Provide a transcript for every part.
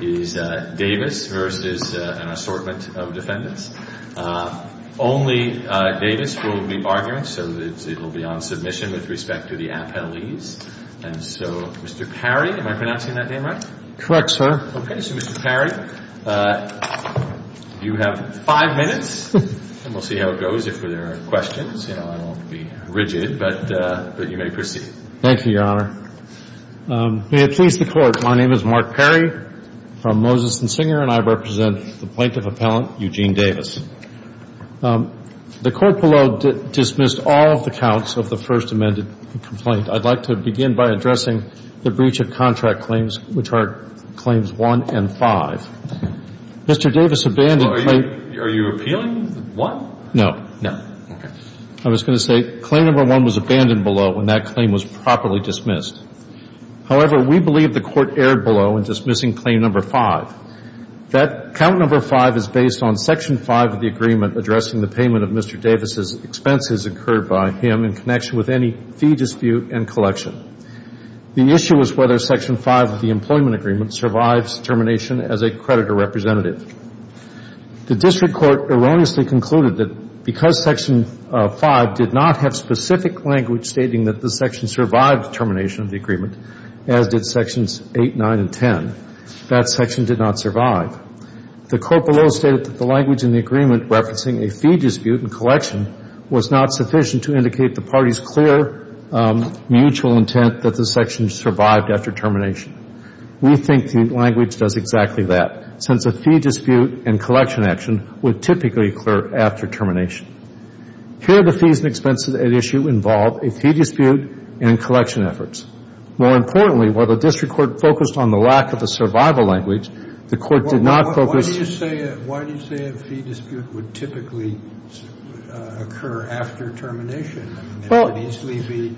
is Davis versus an assortment of defendants. Only Davis will be arguing, so it will be on submission with respect to the appellees. And so, Mr. Perry, am I pronouncing that name right? Correct, sir. Okay. So, Mr. Perry, you have five minutes, and we'll see how it goes. If there are questions, I won't be rigid, but you may proceed. Thank you, Your Honor. May it please the Court, my name is Mark Perry from Moses and Singer, and I represent the plaintiff appellant, Eugene Davis. The Court below dismissed all of the counts of the First Amendment complaint. I'd like to begin by addressing the breach of contract claims, which are Claims 1 and 5. Mr. Davis abandoned Claims 1. Are you appealing 1? No. No. Okay. I was going to say Claim Number 1 was abandoned below when that claim was properly dismissed. However, we believe the Court erred below in dismissing Claim Number 5. That Count Number 5 is based on Section 5 of the agreement addressing the payment of Mr. Davis's expenses incurred by him in connection with any fee dispute and collection. The issue is whether Section 5 of the employment agreement survives termination as a district court erroneously concluded that because Section 5 did not have specific language stating that the section survived termination of the agreement, as did Sections 8, 9, and 10, that section did not survive. The Court below stated that the language in the agreement referencing a fee dispute and collection was not sufficient to indicate the party's clear mutual intent that the section survived after termination. We think the language does exactly that, since a fee dispute and collection action would typically occur after termination. Here, the fees and expenses at issue involve a fee dispute and collection efforts. More importantly, while the district court focused on the lack of a survival language, the Court did not focus Why do you say a fee dispute would typically occur after termination? There could easily be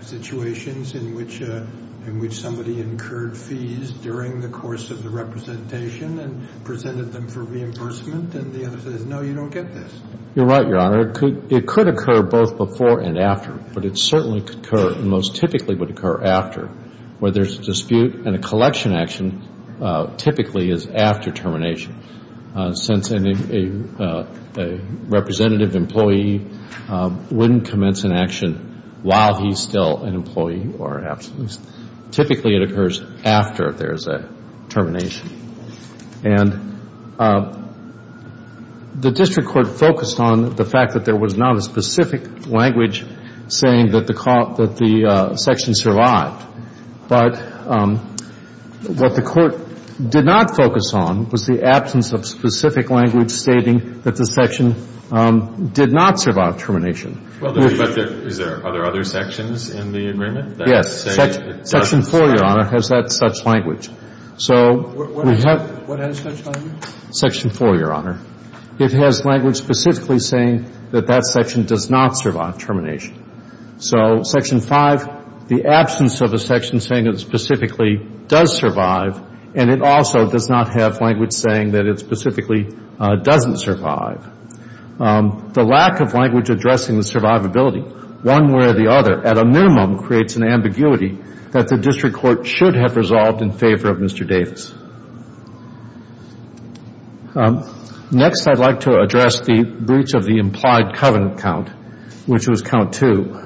situations in which somebody incurred fees during the course of the representation and presented them for reimbursement, and the other says, no, you don't get this. You're right, Your Honor. It could occur both before and after, but it certainly could occur and most typically would occur after, where there's a dispute and a collection action typically is after termination, since a representative employee wouldn't commence an action while he's still an employee or absent. Typically it occurs after there's a termination. And the district court focused on the fact that there was not a specific language saying that the section survived, but what the Court did not focus on was the absence of specific language stating that the section did not survive termination. Well, but is there other sections in the agreement that say it doesn't? Yes. Section 4, Your Honor, has that such language. So we have What has such language? Section 4, Your Honor. It has language specifically saying that that section does not survive termination. So Section 5, the absence of a section saying it specifically does survive, and it also does not have language saying that it specifically doesn't survive. The lack of language addressing the survivability, one way or the other, at a minimum, creates an ambiguity that the district court should have resolved in favor of Mr. Davis. Next, I'd like to address the breach of the implied covenant count, which was count 2.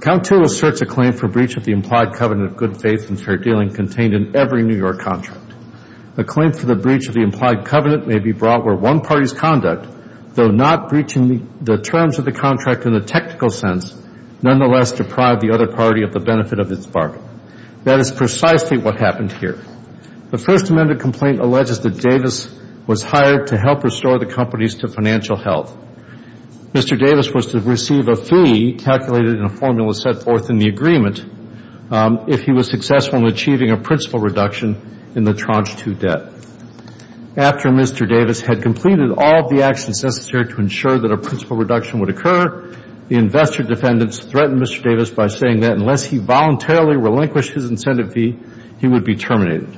Count 2 asserts a claim for breach of the implied covenant of good faith and fair dealing contained in every New York contract. A claim for the breach of the implied covenant may be brought where one party's conduct, though not breaching the terms of the contract in the technical sense, nonetheless deprived the other party of the benefit of its bargain. That is precisely what happened here. The First Amendment complaint alleges that Davis was hired to help restore the companies to financial health. Mr. Davis was to receive a fee calculated in a formula set forth in the agreement if he was successful in achieving a principal reduction in the tranche 2 debt. After Mr. Davis had completed all of the actions necessary to ensure that a principal reduction would occur, the investor defendants threatened Mr. Davis by saying that unless he voluntarily relinquished his incentive fee, he would be terminated.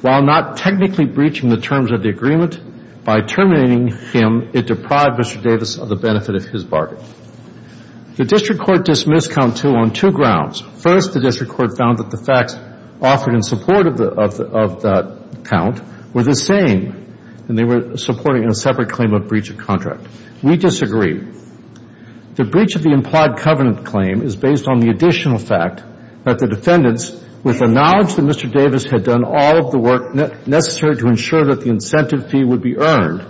While not technically breaching the terms of the agreement, by terminating him, it deprived Mr. Davis of the benefit of his bargain. The district court dismissed count 2 on two grounds. First, the district court found that the facts offered in support of that count were the same, and they were supporting a separate claim of breach of contract. We disagree. The breach of the implied covenant claim is based on the additional fact that the defendants, with the knowledge that Mr. Davis' incentive fee would be earned,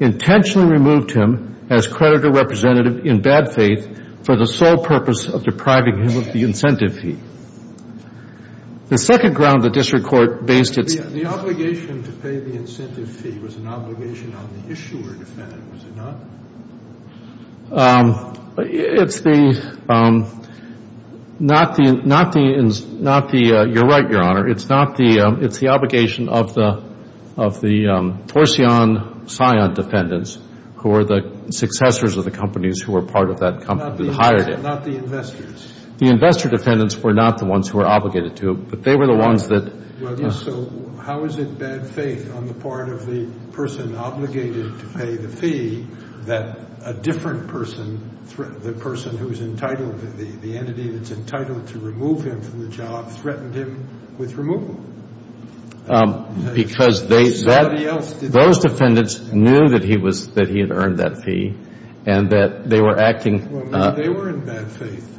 intentionally removed him as creditor representative in bad faith for the sole purpose of depriving him of the incentive fee. The second ground the district court based its... The obligation to pay the incentive fee was an obligation on the issuer defendant, was it not? It's the, not the, not the, not the, you're right, Your Honor. It's not the, it's the obligation of the, of the Torsion-Sion defendants, who are the successors of the companies who were part of that company who hired him. Not the investors. The investor defendants were not the ones who were obligated to, but they were the ones that... So how is it bad faith on the part of the person obligated to pay the fee that a different person, the person who's entitled, the entity that's entitled to remove him from the job threatened him with removal? Because they... Somebody else... Those defendants knew that he was, that he had earned that fee, and that they were acting... Well, maybe they were in bad faith,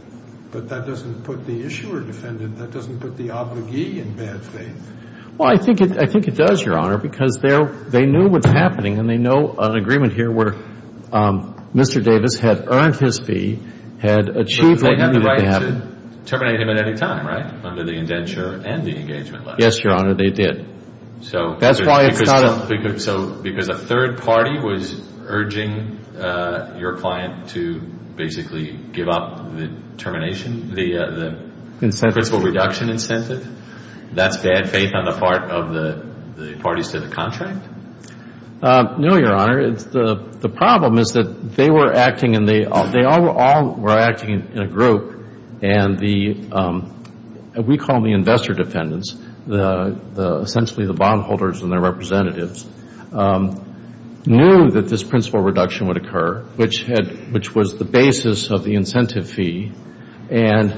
but that doesn't put the issuer defendant, that doesn't put the obligee in bad faith. Well, I think it, I think it does, Your Honor, because they're, they knew what's happening, and they know an agreement here where Mr. Davis had earned his fee, had achieved... Terminate him at any time, right? Under the indenture and the engagement letter. Yes, Your Honor, they did. So... That's why it's not a... So, because a third party was urging your client to basically give up the termination, the principle reduction incentive, that's bad faith on the part of the parties to the contract? No, Your Honor, the problem is that they were acting, and they all were acting in a group, and the, we call them the investor defendants, essentially the bondholders and their representatives, knew that this principle reduction would occur, which was the basis of the incentive fee, and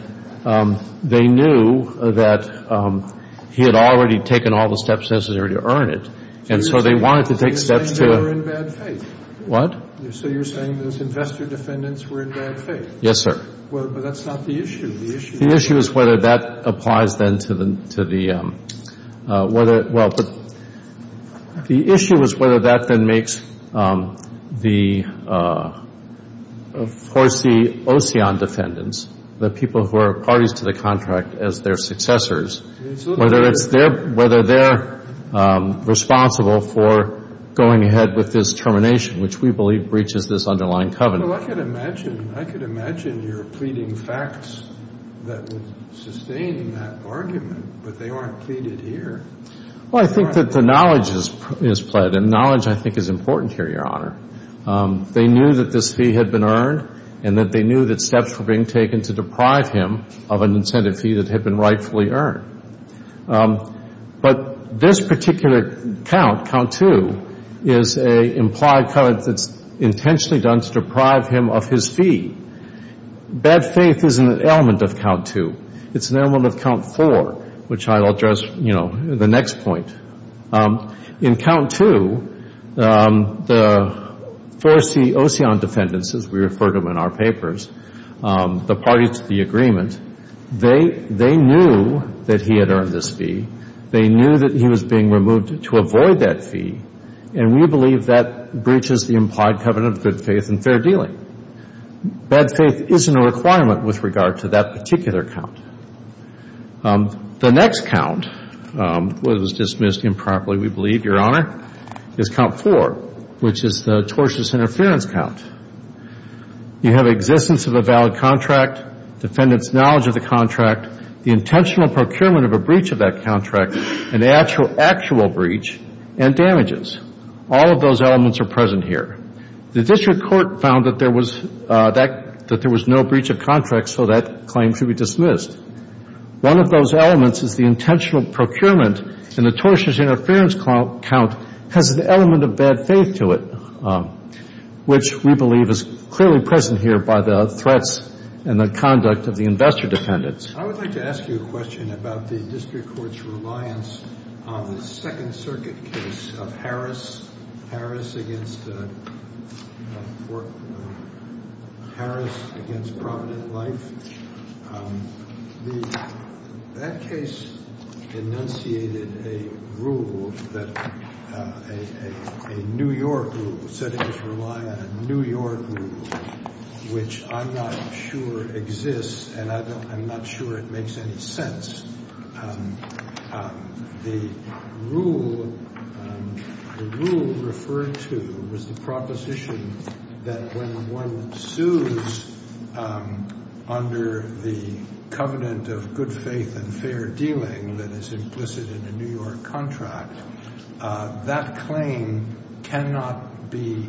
they knew that he had already taken all the steps necessary to earn it, and so they wanted to take steps to... So you're saying they were in bad faith? What? So you're saying those investor defendants were in bad faith? Yes, sir. Well, but that's not the issue. The issue... The issue is whether that applies then to the, to the, whether, well, the issue is whether that then makes the, of course, the OSEON defendants, the people who are parties to the contract as their successors, whether it's their, whether they're responsible for going ahead with this termination, which we believe breaches this underlying covenant. Well, I could imagine, I could imagine you're pleading facts that would sustain that argument, but they aren't pleaded here. Well, I think that the knowledge is pled, and knowledge, I think, is important here, Your Honor. They knew that this fee had been earned, and that they knew that steps were being taken to deprive him of an incentive fee that had been rightfully earned. But this particular count, count two, is a implied covenant that's intentionally done to deprive him of his fee. Bad faith is an element of count two. It's an element of count four, which I'll address, you know, the next point. In count two, the first, the OSEON defendants, as we refer to them in our papers, the parties to the agreement, they knew that he had earned this fee. They knew that he was being removed to avoid that fee, and we believe that breaches the implied covenant of good faith and fair dealing. Bad faith isn't a requirement with regard to that particular count. The next count was dismissed improperly, we believe, Your Honor, is count four, which is the tortious interference count. You have existence of a valid contract, defendant's knowledge of the contract, the intentional procurement of a breach of that contract, an actual breach, and damages. All of those elements are present here. The district court found that there was no breach of contract, so that claim should be dismissed. One of those elements is the intentional procurement, and the tortious interference count has an element of bad faith to it, which we believe is clearly present here by the threats and the conduct of the investor defendants. I would like to ask you a question about the district court's reliance on the Second Circuit case of Harris against Provident Life. That case enunciated a rule, a New York rule, said it was reliant on a New York rule, which I'm not sure exists, and I'm not sure it makes any sense. The rule referred to was the proposition that when one sues under the covenant of good faith and fair dealing that is implicit in a New York contract, that claim cannot be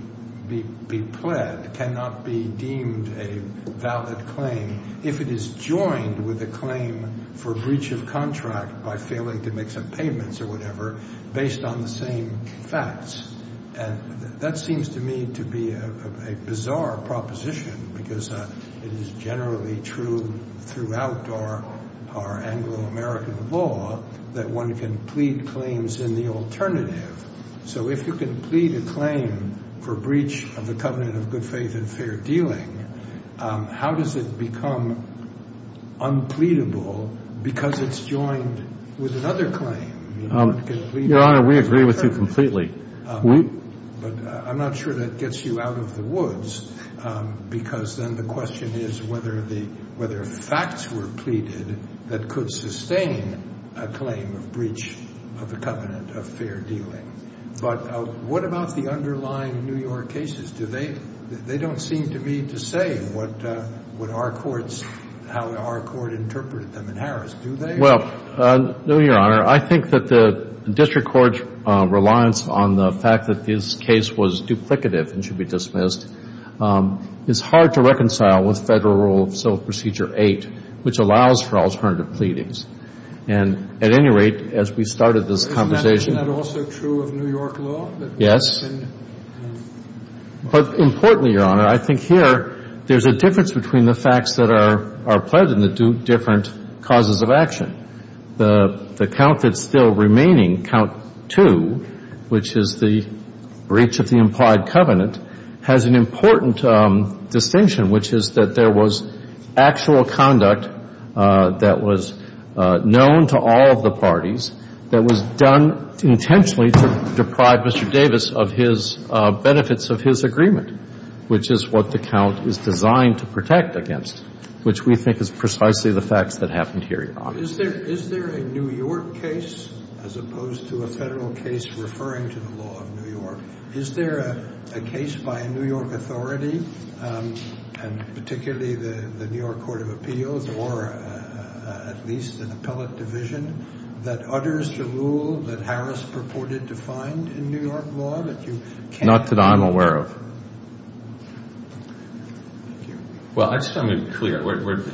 pled, cannot be deemed a valid claim, if it is joined with a claim for breach of contract by failing to make some payments or whatever, based on the same facts. That seems to me to be a bizarre proposition, because it is generally true throughout our Anglo-American law that one can plead claims in the alternative. So if you can plead a claim for breach of the covenant of good faith and fair dealing, how does it become unpleadable because it's joined with another claim? Your Honor, we agree with you completely. But I'm not sure that gets you out of the woods, because then the question is whether facts were pleaded that could sustain a claim of breach of the covenant of fair dealing. But what about the underlying New York cases? They don't seem to me to say what our courts, how our court interpreted them in Harris, do they? Well, no, Your Honor. I think that the district court's reliance on the fact that this case was duplicative and should be dismissed is hard to reconcile with Federal Rule of Civil Procedure 8, which allows for alternative pleadings. And at any rate, as we started this conversation- Isn't that also true of New York law? Yes. But importantly, Your Honor, I think here there's a difference between the facts that are pledged and the different causes of action. The count that's still remaining, count 2, which is the breach of the implied covenant, has an important distinction, which is that there was actual conduct that was known to all of the parties that was done intentionally to deprive Mr. Davis of his benefits of his agreement, which is what the count is designed to protect against, which we think is precisely the facts that happened here, Your Honor. Is there a New York case, as opposed to a Federal case referring to the law of New York, is there a case by a New York authority, and particularly the New York Court of Appeals or at least an appellate division, that utters the rule that Harris purported to find in New York law? Not that I'm aware of. Well, I just want to be clear.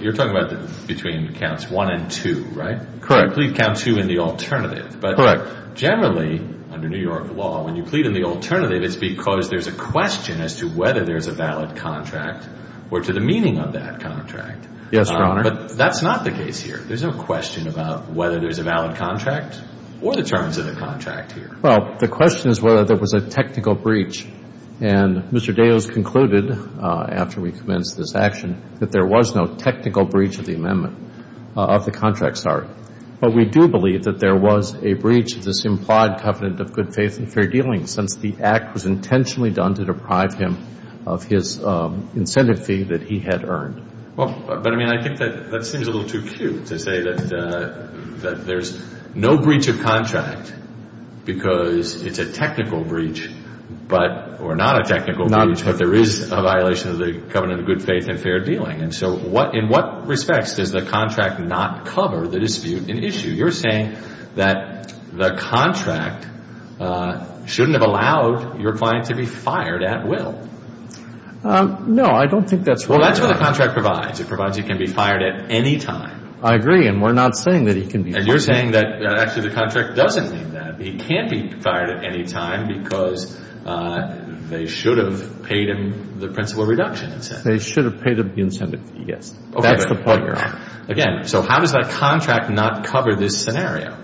You're talking about between counts 1 and 2, right? Correct. You plead count 2 in the alternative. Correct. But generally, under New York law, when you plead in the alternative, it's because there's a question as to whether there's a valid contract or to the meaning of that contract. Yes, Your Honor. But that's not the case here. There's no question about whether there's a valid contract or the terms of the contract here. Well, the question is whether there was a technical breach. And Mr. Davis concluded, after we commenced this action, that there was no technical breach of the amendment, of the contract, sorry. But we do believe that there was a breach of this implied covenant of good faith and fair dealing, since the act was intentionally done to deprive him of his incentive fee that he had earned. But, I mean, I think that seems a little too cute to say that there's no breach of contract because it's a technical breach or not a technical breach, but there is a violation of the covenant of good faith and fair dealing. And so in what respects does the contract not cover the dispute in issue? You're saying that the contract shouldn't have allowed your client to be fired at will. No, I don't think that's right, Your Honor. Well, that's what the contract provides. It provides he can be fired at any time. I agree, and we're not saying that he can be fired. And you're saying that actually the contract doesn't mean that. He can't be fired at any time because they should have paid him the principal reduction incentive. They should have paid him the incentive fee, yes. That's the point, Your Honor. Again, so how does that contract not cover this scenario?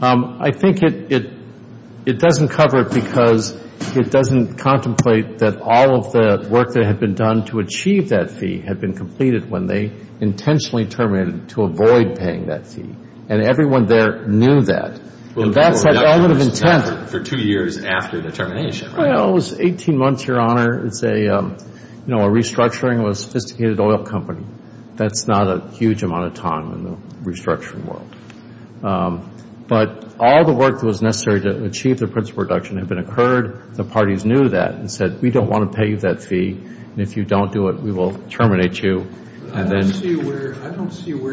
I think it doesn't cover it because it doesn't contemplate that all of the work that had been done to achieve that fee had been completed when they intentionally terminated to avoid paying that fee. And everyone there knew that. And that's that element of intent. For two years after the termination, right? Well, it was 18 months, Your Honor. It's a, you know, a restructuring of a sophisticated oil company. That's not a huge amount of time in the restructuring world. But all the work that was necessary to achieve the principal reduction had been occurred. The parties knew that and said we don't want to pay you that fee, and if you don't do it, we will terminate you. I don't see where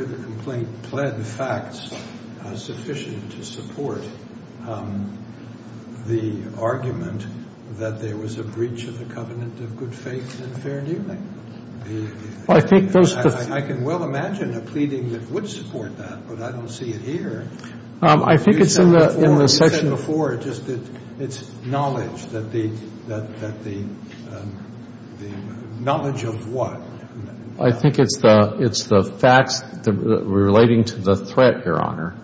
the complaint pled facts sufficient to support the argument that there was a breach of the covenant of good faith and fair dealing. I can well imagine a pleading that would support that, but I don't see it here. I think it's in the section. You said before just that it's knowledge, that the knowledge of what? I think it's the facts relating to the threat, Your Honor.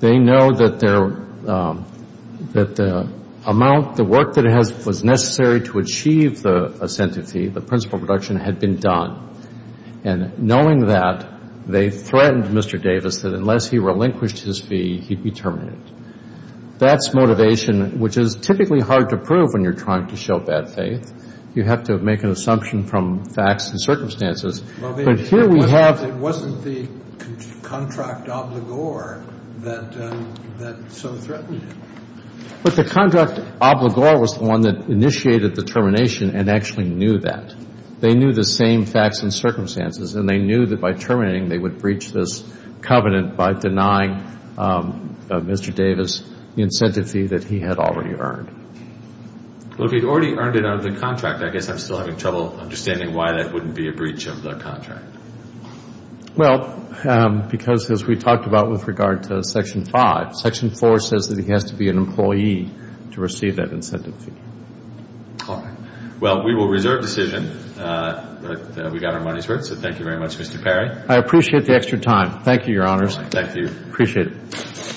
They know that the amount, the work that was necessary to achieve the incentive fee, the principal reduction, had been done. And knowing that, they threatened Mr. Davis that unless he relinquished his fee, he'd be terminated. That's motivation, which is typically hard to prove when you're trying to show bad faith. You have to make an assumption from facts and circumstances. But here we have- It wasn't the contract obligor that so threatened him. But the contract obligor was the one that initiated the termination and actually knew that. They knew the same facts and circumstances, and they knew that by terminating they would breach this covenant by denying Mr. Davis the incentive fee that he had already earned. Well, if he'd already earned it out of the contract, I guess I'm still having trouble understanding why that wouldn't be a breach of the contract. Well, because as we talked about with regard to Section 5, Section 4 says that he has to be an employee to receive that incentive fee. All right. Well, we will reserve decision. But we got our money's worth, so thank you very much, Mr. Perry. I appreciate the extra time. Thank you, Your Honors. Thank you. Appreciate it.